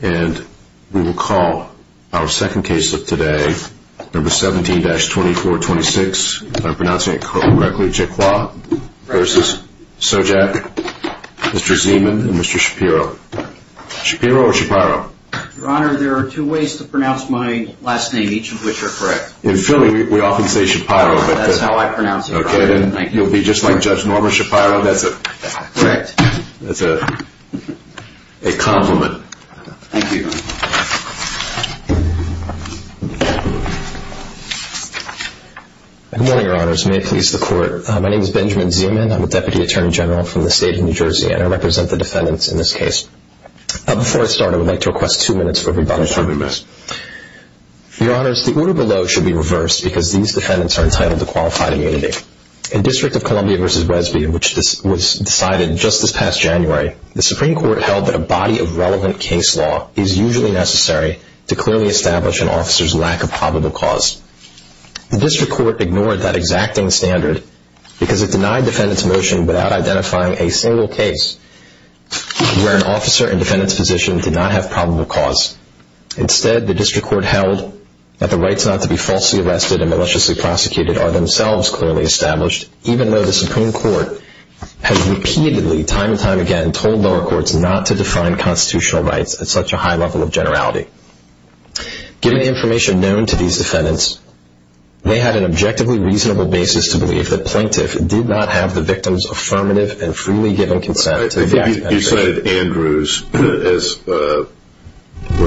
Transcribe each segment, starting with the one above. And we will call our second case of today, number 17-2426, if I'm pronouncing it correctly, Jecrois v. Sojak, Mr. Zeman, and Mr. Shapiro. Shapiro or Shapiro? Your Honor, there are two ways to pronounce my last name, each of which are correct. In Philly, we often say Shapiro. That's how I pronounce it. Okay, then you'll be just like Judge Norma Shapiro. Correct. That's a compliment. Thank you. Good morning, Your Honors. May it please the Court. My name is Benjamin Zeman. I'm a Deputy Attorney General from the State of New Jersey, and I represent the defendants in this case. Before I start, I would like to request two minutes for rebuttal. Certainly, Mr. Zeman. Your Honors, the order below should be reversed because these defendants are entitled to qualified immunity. In District of Columbia v. Wesby, which was decided just this past January, the Supreme Court held that a body of relevant case law is usually necessary to clearly establish an officer's lack of probable cause. The District Court ignored that exacting standard because it denied defendants' motion without identifying a single case where an officer and defendant's position did not have probable cause. Instead, the District Court held that the rights not to be falsely arrested and maliciously prosecuted are themselves clearly established, even though the Supreme Court has repeatedly, time and time again, told lower courts not to define constitutional rights at such a high level of generality. Given the information known to these defendants, they had an objectively reasonable basis to believe that Plaintiff did not have the victim's affirmative and freely given consent to the act of penetration. You cited Andrews, where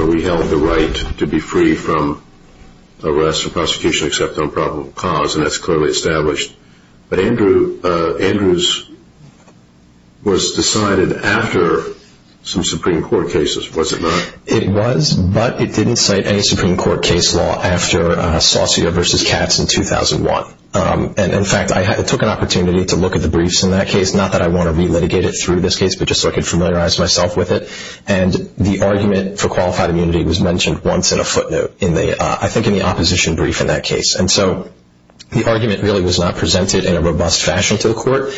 we held the right to be free from arrest or prosecution except on probable cause, and that's clearly established. But Andrews was decided after some Supreme Court cases, was it not? It was, but it didn't cite any Supreme Court case law after Saucio v. Katz in 2001. In fact, I took an opportunity to look at the briefs in that case, not that I want to re-litigate it through this case, but just so I could familiarize myself with it, and the argument for qualified immunity was mentioned once in a footnote, I think in the opposition brief in that case. And so the argument really was not presented in a robust fashion to the court,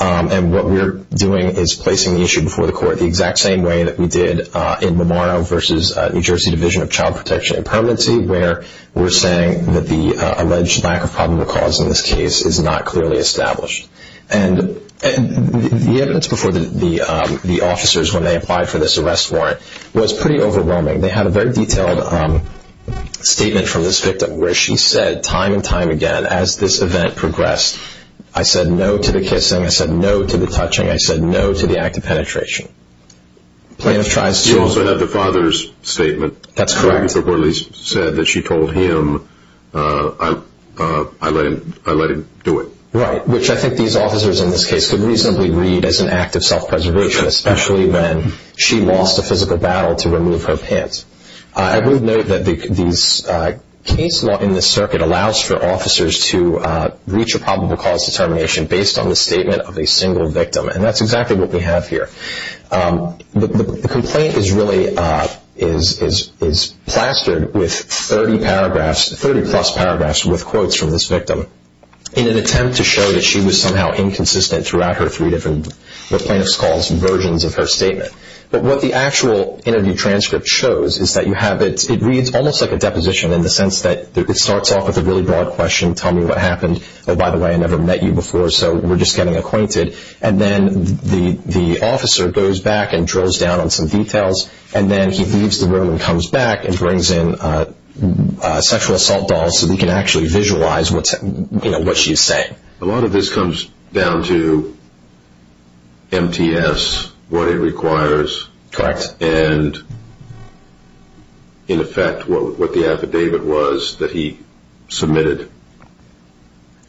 and what we're doing is placing the issue before the court the exact same way that we did in Mamaro v. New Jersey Division of Child Protection and Permanency, where we're saying that the alleged lack of probable cause in this case is not clearly established. And the evidence before the officers when they applied for this arrest warrant was pretty overwhelming. They had a very detailed statement from this victim where she said time and time again, as this event progressed, I said no to the kissing, I said no to the touching, I said no to the act of penetration. You also have the father's statement. That's correct. Where he said that she told him, I let him do it. Right, which I think these officers in this case could reasonably read as an act of self-preservation, especially when she lost a physical battle to remove her pants. I would note that these case law in this circuit allows for officers to reach a probable cause determination based on the statement of a single victim, and that's exactly what we have here. The complaint is really plastered with 30 plus paragraphs with quotes from this victim in an attempt to show that she was somehow inconsistent throughout her three different, what plaintiffs call versions of her statement. But what the actual interview transcript shows is that you have it, it reads almost like a deposition in the sense that it starts off with a really broad question, tell me what happened, oh, by the way, I never met you before, so we're just getting acquainted. And then the officer goes back and drills down on some details, and then he leaves the room and comes back and brings in a sexual assault doll so that he can actually visualize what she's saying. A lot of this comes down to MTS, what it requires. Correct. And in effect what the affidavit was that he submitted.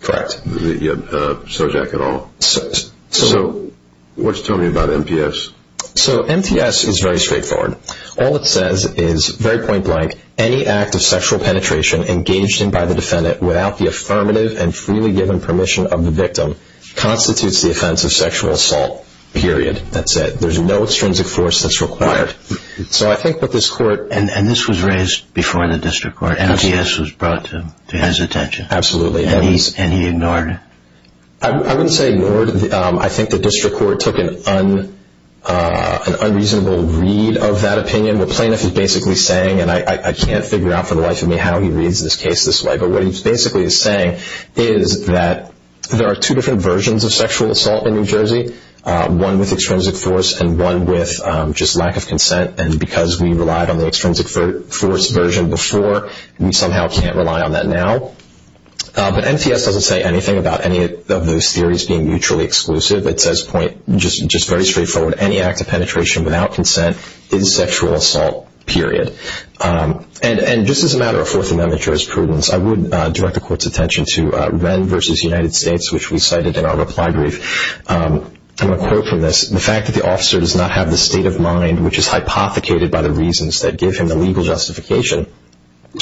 Correct. Sojak et al. So what's it telling me about MTS? So MTS is very straightforward. All it says is, very point blank, any act of sexual penetration engaged in by the defendant without the affirmative and freely given permission of the victim constitutes the offense of sexual assault, period. That's it. There's no extrinsic force that's required. And this was raised before the district court. MTS was brought to his attention. Absolutely. And he ignored it. I wouldn't say ignored. I think the district court took an unreasonable read of that opinion. What Plaintiff is basically saying, and I can't figure out for the life of me how he reads this case this way, but what he basically is saying is that there are two different versions of sexual assault in New Jersey, one with extrinsic force and one with just lack of consent. And because we relied on the extrinsic force version before, we somehow can't rely on that now. But MTS doesn't say anything about any of those theories being mutually exclusive. It says, just very straightforward, any act of penetration without consent is sexual assault, period. And just as a matter of Fourth Amendment jurisprudence, I would direct the court's attention to Wren v. United States, which we cited in our reply brief. I'm going to quote from this, the fact that the officer does not have the state of mind which is hypothecated by the reasons that give him the legal justification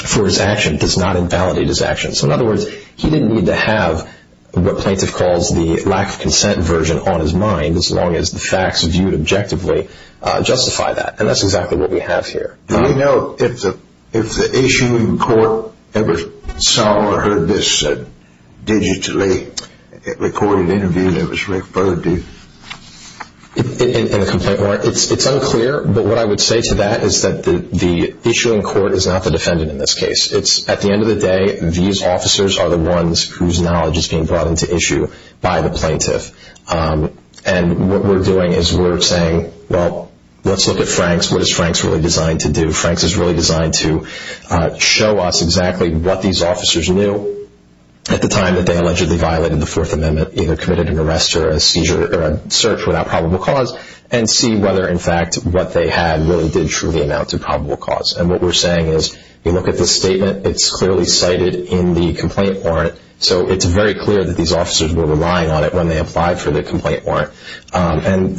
for his action does not invalidate his action. So in other words, he didn't need to have what Plaintiff calls the lack of consent version on his mind as long as the facts viewed objectively justify that. And that's exactly what we have here. Do you know if the issuing court ever saw or heard this digitally recorded interview that was referred to? It's unclear, but what I would say to that is that the issuing court is not the defendant in this case. At the end of the day, these officers are the ones whose knowledge is being brought into issue by the Plaintiff. And what we're doing is we're saying, well, let's look at Franks. What is Franks really designed to do? Franks is really designed to show us exactly what these officers knew at the time that they allegedly violated the Fourth Amendment, either committed an arrest or a seizure or a search without probable cause, and see whether, in fact, what they had really did truly amount to probable cause. And what we're saying is we look at this statement. It's clearly cited in the complaint warrant. So it's very clear that these officers were relying on it when they applied for the complaint warrant. And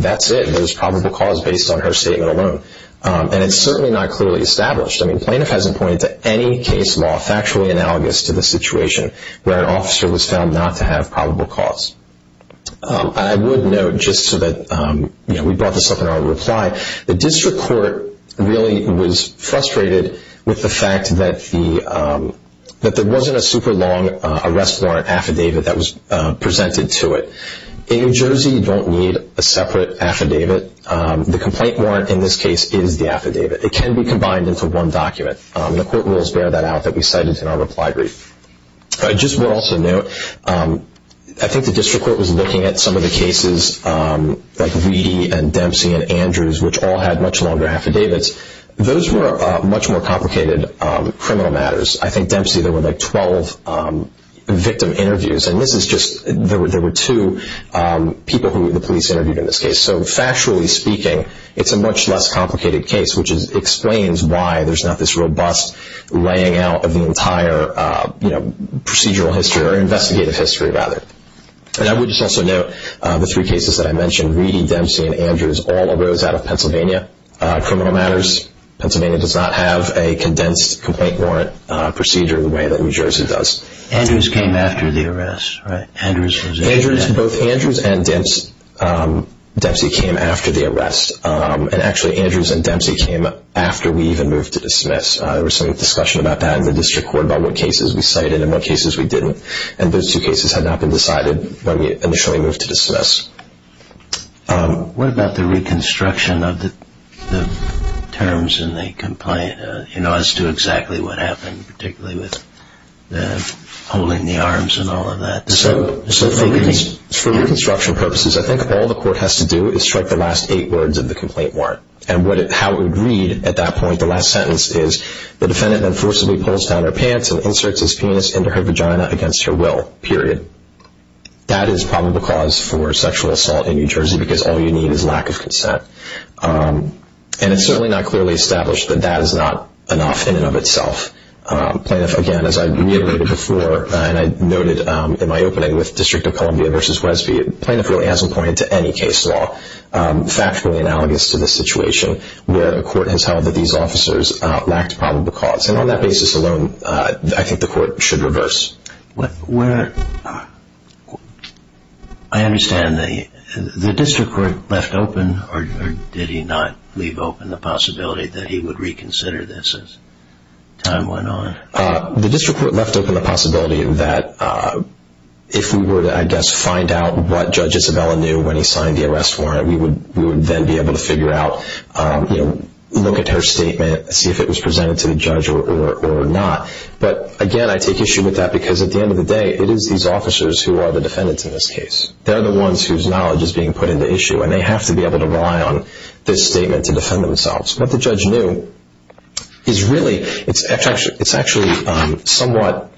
that's it. There's probable cause based on her statement alone. And it's certainly not clearly established. I mean, the Plaintiff hasn't pointed to any case law factually analogous to the situation where an officer was found not to have probable cause. I would note, just so that we brought this up in our reply, the district court really was frustrated with the fact that there wasn't a super long arrest warrant affidavit that was presented to it. In New Jersey, you don't need a separate affidavit. The complaint warrant in this case is the affidavit. It can be combined into one document. The court rules bear that out that we cited in our reply brief. I just would also note, I think the district court was looking at some of the cases, like Weedy and Dempsey and Andrews, which all had much longer affidavits. Those were much more complicated criminal matters. I think Dempsey, there were like 12 victim interviews, and this is just there were two people who the police interviewed in this case. So, factually speaking, it's a much less complicated case, which explains why there's not this robust laying out of the entire procedural history, or investigative history, rather. I would just also note the three cases that I mentioned, Weedy, Dempsey, and Andrews, all arose out of Pennsylvania criminal matters. Pennsylvania does not have a condensed complaint warrant procedure the way that New Jersey does. Andrews came after the arrest, right? Both Andrews and Dempsey came after the arrest. Actually, Andrews and Dempsey came after we even moved to dismiss. There was some discussion about that in the district court about what cases we cited and what cases we didn't. Those two cases had not been decided when we initially moved to dismiss. What about the reconstruction of the terms in the complaint as to exactly what happened, particularly with the holding the arms and all of that? For reconstruction purposes, I think all the court has to do is strike the last eight words of the complaint warrant. How it would read at that point, the last sentence is, the defendant then forcibly pulls down her pants and inserts his penis into her vagina against her will, period. That is probably the cause for sexual assault in New Jersey because all you need is lack of consent. It's certainly not clearly established that that is not enough in and of itself. Plaintiff, again, as I reiterated before, and I noted in my opening with District of Columbia v. Wesby, plaintiff really hasn't pointed to any case law factually analogous to this situation where a court has held that these officers lacked probable cause. On that basis alone, I think the court should reverse. I understand the district court left open or did he not leave open the possibility that he would reconsider this as time went on? The district court left open the possibility that if we were to, I guess, find out what Judge Isabella knew when he signed the arrest warrant, we would then be able to figure out, look at her statement, see if it was presented to the judge or not. But again, I take issue with that because at the end of the day, it is these officers who are the defendants in this case. They're the ones whose knowledge is being put into issue, and they have to be able to rely on this statement to defend themselves. What the judge knew is really, it's actually somewhat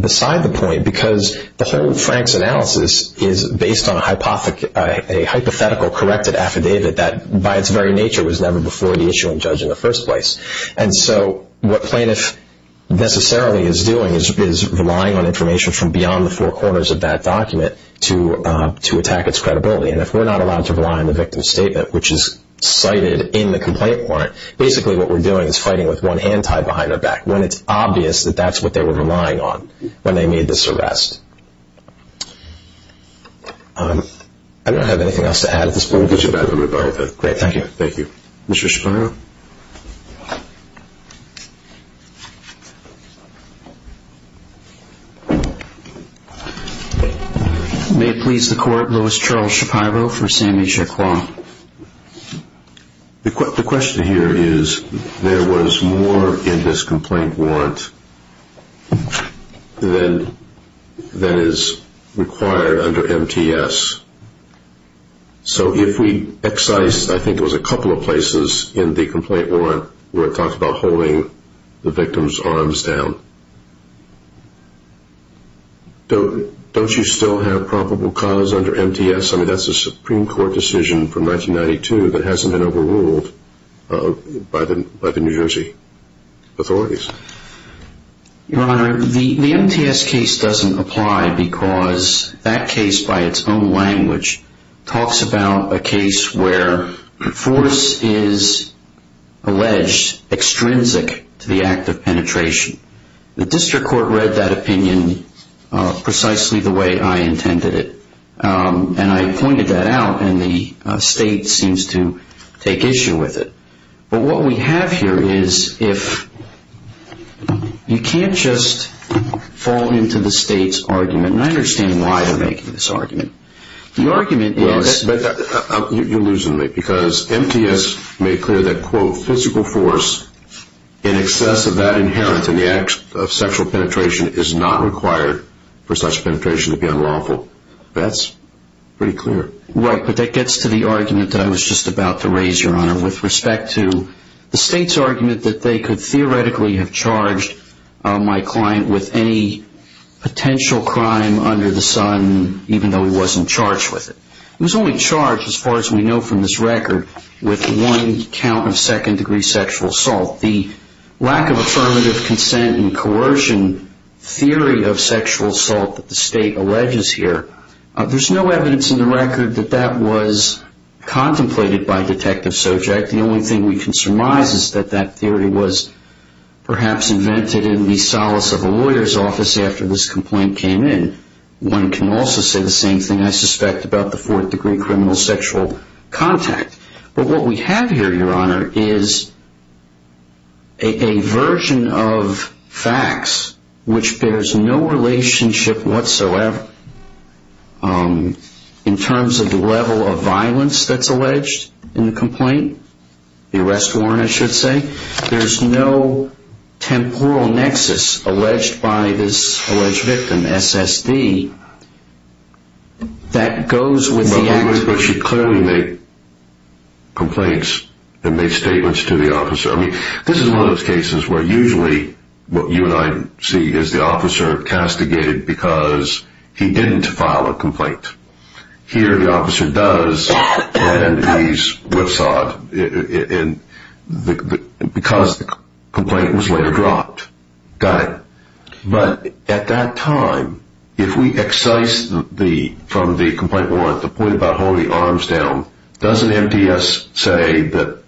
beside the point because the whole Frank's analysis is based on a hypothetical corrected affidavit that by its very nature was never before the issue in judge in the first place. What plaintiff necessarily is doing is relying on information from beyond the four corners of that document to attack its credibility. If we're not allowed to rely on the victim's statement, which is cited in the complaint warrant, basically what we're doing is fighting with one hand tied behind our back when it's obvious that that's what they were relying on when they made this arrest. I don't have anything else to add at this point. Judge Isabella, we're done with that. Great, thank you. Thank you. Thank you, Mr. Schapiro. May it please the court, Louis Charles Schapiro for Sammy Jaquan. The question here is, there was more in this complaint warrant than is required under MTS. So if we excise, I think it was a couple of places in the complaint warrant where it talks about holding the victim's arms down, don't you still have probable cause under MTS? I mean, that's a Supreme Court decision from 1992 that hasn't been overruled by the New Jersey authorities. Your Honor, the MTS case doesn't apply because that case, by its own language, talks about a case where force is alleged extrinsic to the act of penetration. The district court read that opinion precisely the way I intended it. And I pointed that out, and the state seems to take issue with it. But what we have here is if you can't just fall into the state's argument, and I understand why they're making this argument. The argument is- You're losing me because MTS made clear that, quote, physical force in excess of that inherent in the act of sexual penetration is not required for such penetration to be unlawful. That's pretty clear. Right, but that gets to the argument that I was just about to raise, Your Honor. With respect to the state's argument that they could theoretically have charged my client with any potential crime under the sun, even though he wasn't charged with it. He was only charged, as far as we know from this record, with one count of second-degree sexual assault. The lack of affirmative consent and coercion theory of sexual assault that the state alleges here, there's no evidence in the record that that was contemplated by Detective Sojak. The only thing we can surmise is that that theory was perhaps invented in the solace of a lawyer's office after this complaint came in. One can also say the same thing, I suspect, about the fourth-degree criminal sexual contact. But what we have here, Your Honor, is a version of facts which bears no relationship whatsoever in terms of the level of violence that's alleged in the complaint. The arrest warrant, I should say. There's no temporal nexus alleged by this alleged victim, S.S.D., that goes with the act. But she clearly made complaints and made statements to the officer. I mean, this is one of those cases where usually what you and I see is the officer castigated because he didn't file a complaint. Here the officer does and he's whipsawed because the complaint was later dropped. Got it. But at that time, if we excise from the complaint warrant the point about holding arms down, doesn't MTS say that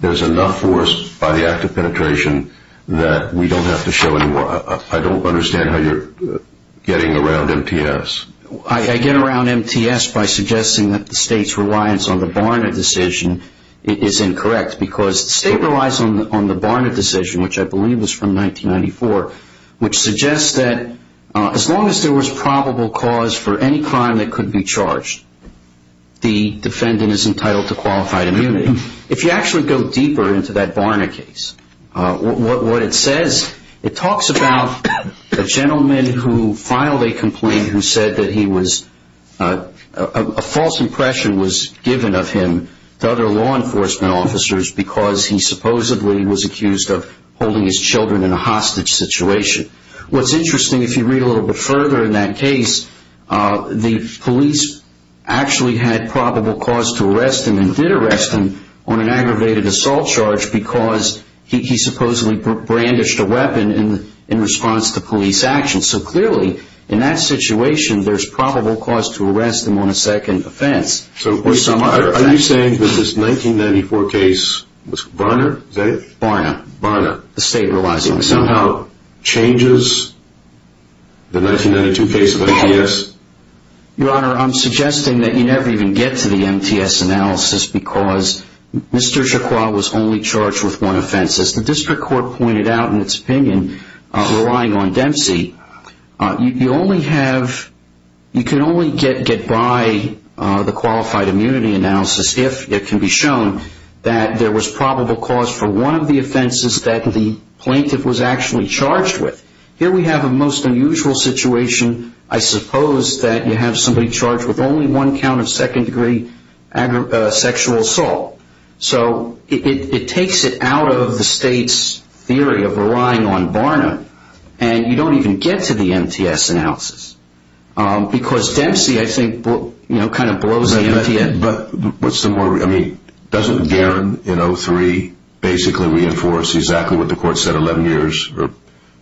there's enough force by the act of penetration that we don't have to show anymore? I don't understand how you're getting around MTS. I get around MTS by suggesting that the State's reliance on the Barna decision is incorrect because the State relies on the Barna decision, which I believe was from 1994, which suggests that as long as there was probable cause for any crime that could be charged, the defendant is entitled to qualified immunity. If you actually go deeper into that Barna case, what it says, it talks about a gentleman who filed a complaint who said that a false impression was given of him to other law enforcement officers because he supposedly was accused of holding his children in a hostage situation. What's interesting, if you read a little bit further in that case, the police actually had probable cause to arrest him and did arrest him on an aggravated assault charge because he supposedly brandished a weapon in response to police action. So clearly, in that situation, there's probable cause to arrest him on a second offense. So are you saying that this 1994 case with Barna, is that it? Barna. Barna. The State relies on Barna. Somehow changes the 1992 case of MTS? Your Honor, I'm suggesting that you never even get to the MTS analysis because Mr. Chakwa was only charged with one offense. As the District Court pointed out in its opinion, relying on Dempsey, you can only get by the qualified immunity analysis if it can be shown that there was probable cause for one of the offenses that the plaintiff was actually charged with. Here we have a most unusual situation. I suppose that you have somebody charged with only one count of second-degree sexual assault. So it takes it out of the State's theory of relying on Barna, and you don't even get to the MTS analysis. Because Dempsey, I think, kind of blows the MTS. But doesn't Garron in 03 basically reinforce exactly what the court said 11 years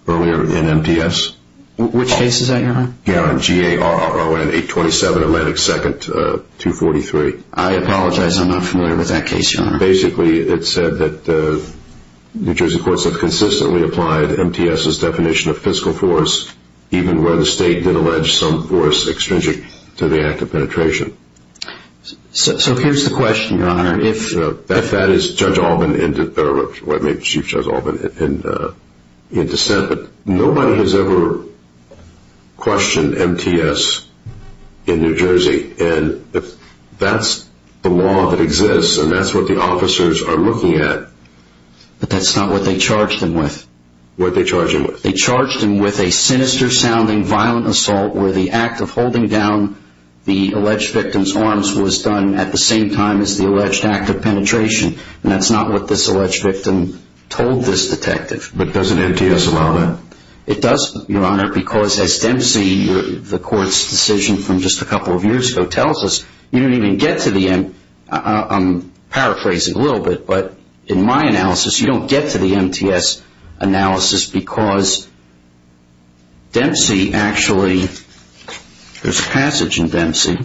earlier in MTS? Which case is that, Your Honor? Garron, G-A-R-R-O-N, 827 Atlantic 2nd, 243. I apologize, I'm not familiar with that case, Your Honor. Basically, it said that New Jersey courts have consistently applied MTS's definition of fiscal force even where the State did allege some force extrinsic to the act of penetration. So here's the question, Your Honor. If that is Judge Alban, or Chief Judge Alban, in dissent, but nobody has ever questioned MTS in New Jersey. That's the law that exists, and that's what the officers are looking at. But that's not what they charged him with. What did they charge him with? They charged him with a sinister-sounding violent assault where the act of holding down the alleged victim's arms was done at the same time as the alleged act of penetration. And that's not what this alleged victim told this detective. But doesn't MTS allow that? It does, Your Honor, because as Dempsey, the court's decision from just a couple of years ago, tells us, you don't even get to the end. I'm paraphrasing a little bit, but in my analysis, you don't get to the MTS analysis because Dempsey actually, there's a passage in Dempsey.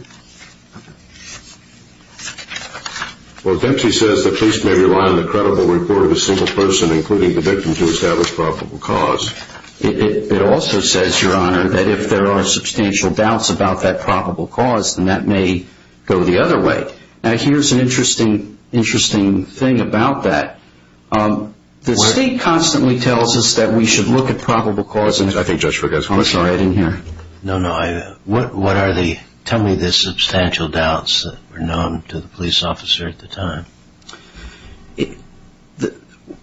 Well, Dempsey says, the police may rely on the credible report of a single person, including the victim, to establish probable cause. It also says, Your Honor, that if there are substantial doubts about that probable cause, then that may go the other way. Now, here's an interesting thing about that. The state constantly tells us that we should look at probable causes. I think Judge Ferguson was right in here. No, no. Tell me the substantial doubts that were known to the police officer at the time.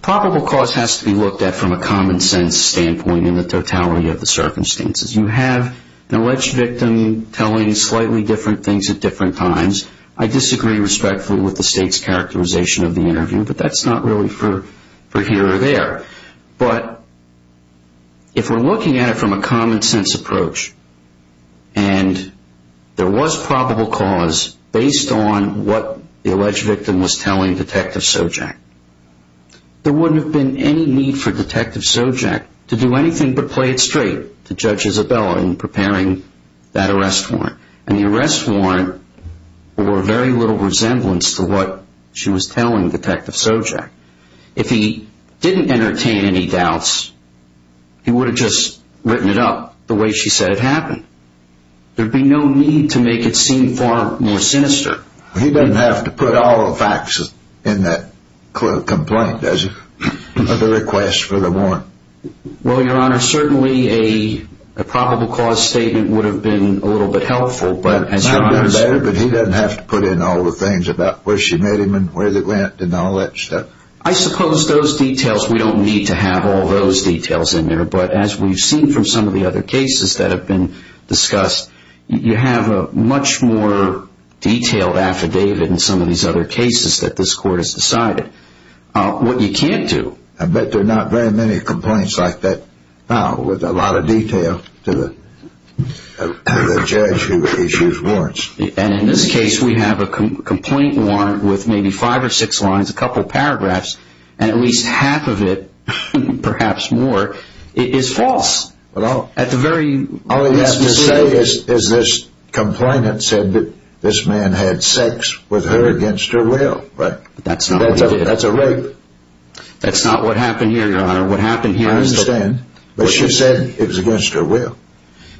Probable cause has to be looked at from a common sense standpoint in the totality of the circumstances. You have an alleged victim telling slightly different things at different times. I disagree respectfully with the state's characterization of the interview, but that's not really for here or there. But if we're looking at it from a common sense approach and there was probable cause based on what the alleged victim was telling Detective Sojak, there wouldn't have been any need for Detective Sojak to do anything but play it straight to Judge Isabella in preparing that arrest warrant. And the arrest warrant bore very little resemblance to what she was telling Detective Sojak. If he didn't entertain any doubts, he would have just written it up the way she said it happened. There would be no need to make it seem far more sinister. He doesn't have to put all the facts in that complaint, does he, or the request for the warrant? Well, Your Honor, certainly a probable cause statement would have been a little bit helpful. But he doesn't have to put in all the things about where she met him and where they went and all that stuff. I suppose those details, we don't need to have all those details in there, but as we've seen from some of the other cases that have been discussed, you have a much more detailed affidavit in some of these other cases that this Court has decided. What you can't do... I bet there are not very many complaints like that now with a lot of detail to the judge who issues warrants. And in this case, we have a complaint warrant with maybe five or six lines, a couple paragraphs, and at least half of it, perhaps more, is false. All you have to say is this complainant said that this man had sex with her against her will. That's a rape. That's not what happened here, Your Honor. I understand, but she said it was against her will.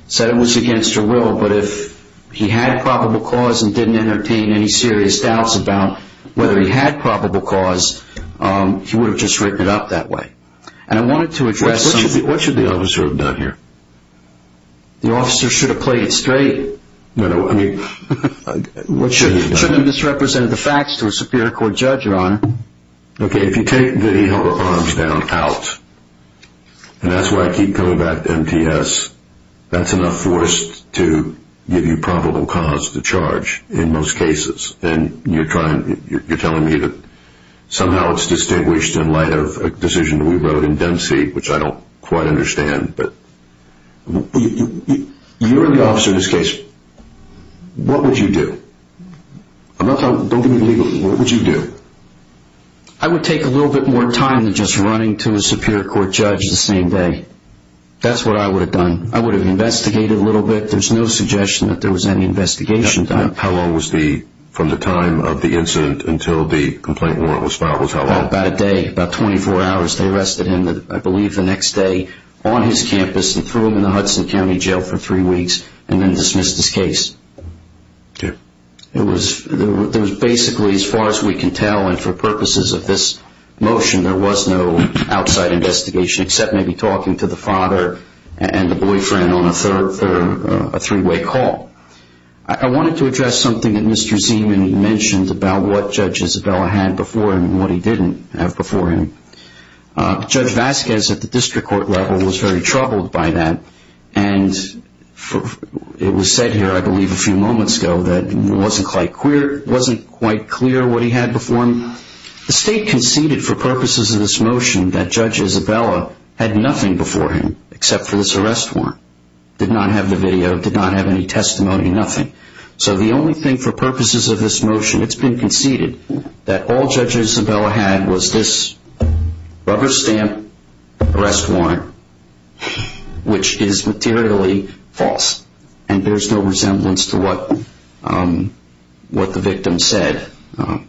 Said it was against her will, but if he had probable cause and didn't entertain any serious doubts about whether he had probable cause, he would have just written it up that way. And I wanted to address... What should the officer have done here? The officer should have played it straight. No, no, I mean... Should have misrepresented the facts to a Superior Court judge, Your Honor. Okay, if you take the arms down out, and that's why I keep coming back to MTS, that's enough force to give you probable cause to charge in most cases. And you're telling me that somehow it's distinguished in light of a decision we wrote in Dempsey, which I don't quite understand, but... You're the officer in this case. What would you do? Don't give me the legal... What would you do? I would take a little bit more time than just running to a Superior Court judge the same day. That's what I would have done. I would have investigated a little bit. There's no suggestion that there was any investigation done. How long was the... From the time of the incident until the complaint warrant was filed was how long? About a day, about 24 hours. They arrested him, I believe, the next day on his campus and threw him in the Hudson County Jail for three weeks, and then dismissed his case. Okay. It was basically, as far as we can tell, and for purposes of this motion, there was no outside investigation except maybe talking to the father and the boyfriend on a three-way call. I wanted to address something that Mr. Zeman mentioned about what Judge Isabella had before him and what he didn't have before him. Judge Vasquez at the district court level was very troubled by that, and it was said here, I believe, a few moments ago that it wasn't quite clear what he had before him. The state conceded for purposes of this motion that Judge Isabella had nothing before him except for this arrest warrant. Did not have the video, did not have any testimony, nothing. So the only thing for purposes of this motion, it's been conceded, that all Judge Isabella had was this rubber stamp arrest warrant, which is materially false, and there's no resemblance to what the victim said. I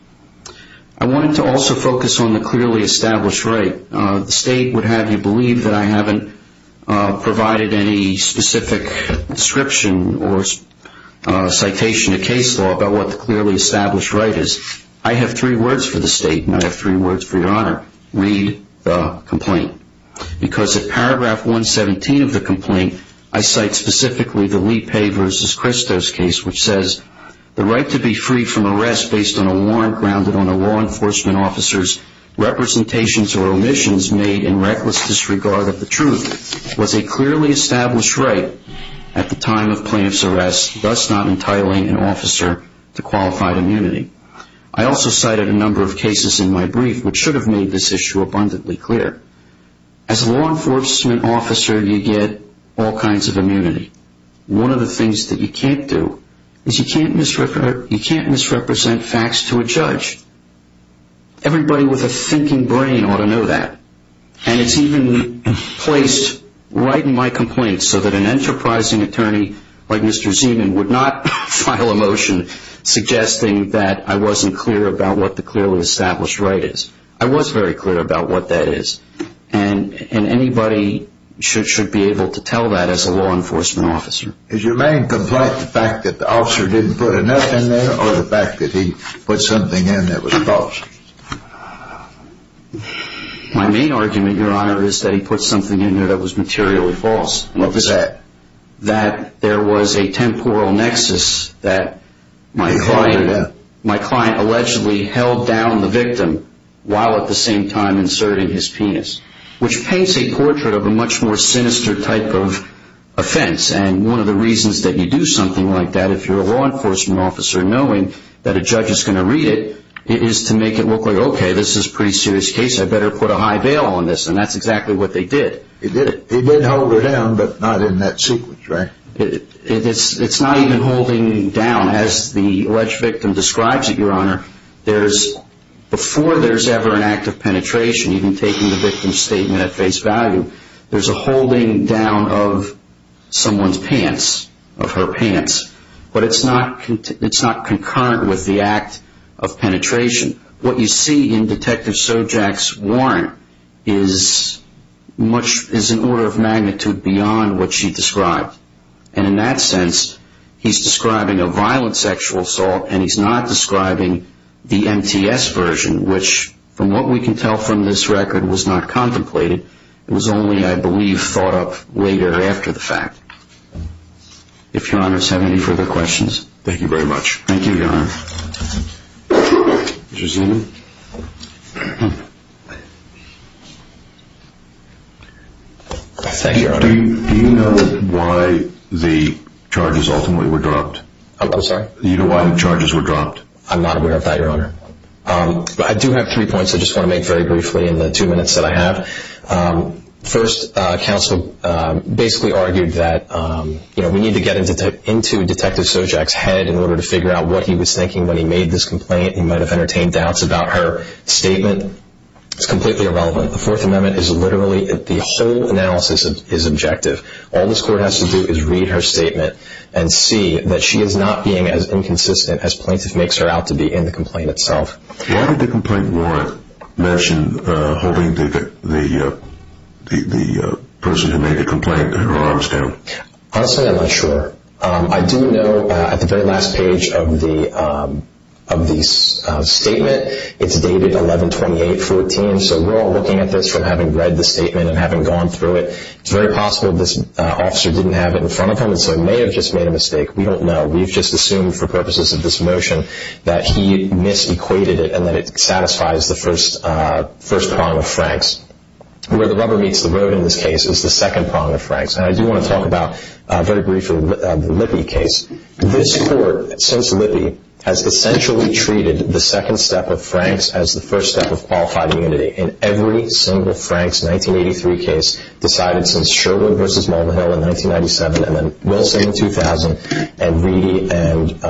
wanted to also focus on the clearly established right. The state would have you believe that I haven't provided any specific description or citation to case law about what the clearly established right is. I have three words for the state, and I have three words for Your Honor. Read the complaint, because at paragraph 117 of the complaint, I cite specifically the Lee Pei versus Christos case, which says, the right to be free from arrest based on a warrant grounded on a law enforcement officer's representations or omissions made in reckless disregard of the truth was a clearly established right at the time of plaintiff's arrest, thus not entitling an officer to qualified immunity. I also cited a number of cases in my brief which should have made this issue abundantly clear. As a law enforcement officer, you get all kinds of immunity. One of the things that you can't do is you can't misrepresent facts to a judge. Everybody with a thinking brain ought to know that. And it's even placed right in my complaint so that an enterprising attorney like Mr. Zeman would not file a motion suggesting that I wasn't clear about what the clearly established right is. I was very clear about what that is, and anybody should be able to tell that as a law enforcement officer. Is your main complaint the fact that the officer didn't put enough in there or the fact that he put something in there that was false? My main argument, Your Honor, is that he put something in there that was materially false. What was that? That there was a temporal nexus that my client allegedly held down the victim while at the same time inserting his penis, which paints a portrait of a much more sinister type of offense. And one of the reasons that you do something like that, if you're a law enforcement officer, knowing that a judge is going to read it, is to make it look like, okay, this is a pretty serious case. I better put a high bail on this. And that's exactly what they did. He did hold her down, but not in that sequence, right? It's not even holding down. As the alleged victim describes it, Your Honor, before there's ever an act of penetration, even taking the victim's statement at face value, there's a holding down of someone's pants, of her pants. But it's not concurrent with the act of penetration. What you see in Detective Sojak's warrant is an order of magnitude beyond what she described. And in that sense, he's describing a violent sexual assault, and he's not describing the MTS version, which, from what we can tell from this record, was not contemplated. It was only, I believe, thought up later after the fact. If Your Honors have any further questions. Thank you very much. Thank you, Your Honor. Did you see me? Thank you, Your Honor. Do you know why the charges ultimately were dropped? I'm sorry? Do you know why the charges were dropped? I'm not aware of that, Your Honor. But I do have three points I just want to make very briefly in the two minutes that I have. First, counsel basically argued that, you know, we need to get into Detective Sojak's head in order to figure out what he was thinking when he made this complaint. He might have entertained doubts about her statement. It's completely irrelevant. The Fourth Amendment is literally, the whole analysis is objective. All this court has to do is read her statement and see that she is not being as inconsistent as plaintiff makes her out to be in the complaint itself. Why did the complaint warrant mention holding the person who made the complaint, her arms down? Honestly, I'm not sure. I do know at the very last page of the statement, it's dated 11-28-14, so we're all looking at this from having read the statement and having gone through it. It's very possible this officer didn't have it in front of him and so may have just made a mistake. We don't know. We've just assumed for purposes of this motion that he mis-equated it and that it satisfies the first prong of Frank's. Where the rubber meets the road in this case is the second prong of Frank's. And I do want to talk about, very briefly, the Lippe case. This court, since Lippe, has essentially treated the second step of Frank's as the first step of qualified immunity. And every single Frank's 1983 case decided since Sherwood v. Mulvihill in 1997 and then Wilson in 2000 and Reedy and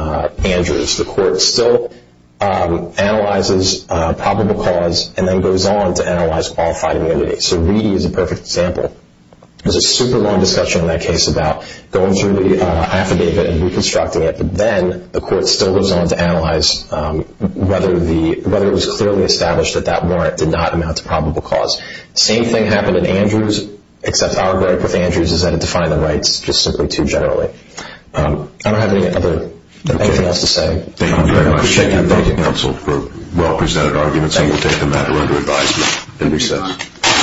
Andrews. The court still analyzes probable cause and then goes on to analyze qualified immunity. So Reedy is a perfect example. There's a super long discussion in that case about going through the affidavit and reconstructing it, but then the court still goes on to analyze whether it was clearly established that that warrant did not amount to probable cause. The same thing happened in Andrews, except our break with Andrews is that it defined the rights just simply too generally. I don't have anything else to say. Thank you very much. I appreciate you. Thank you, counsel, for well-presented arguments. And we'll take the matter under advisement in recess.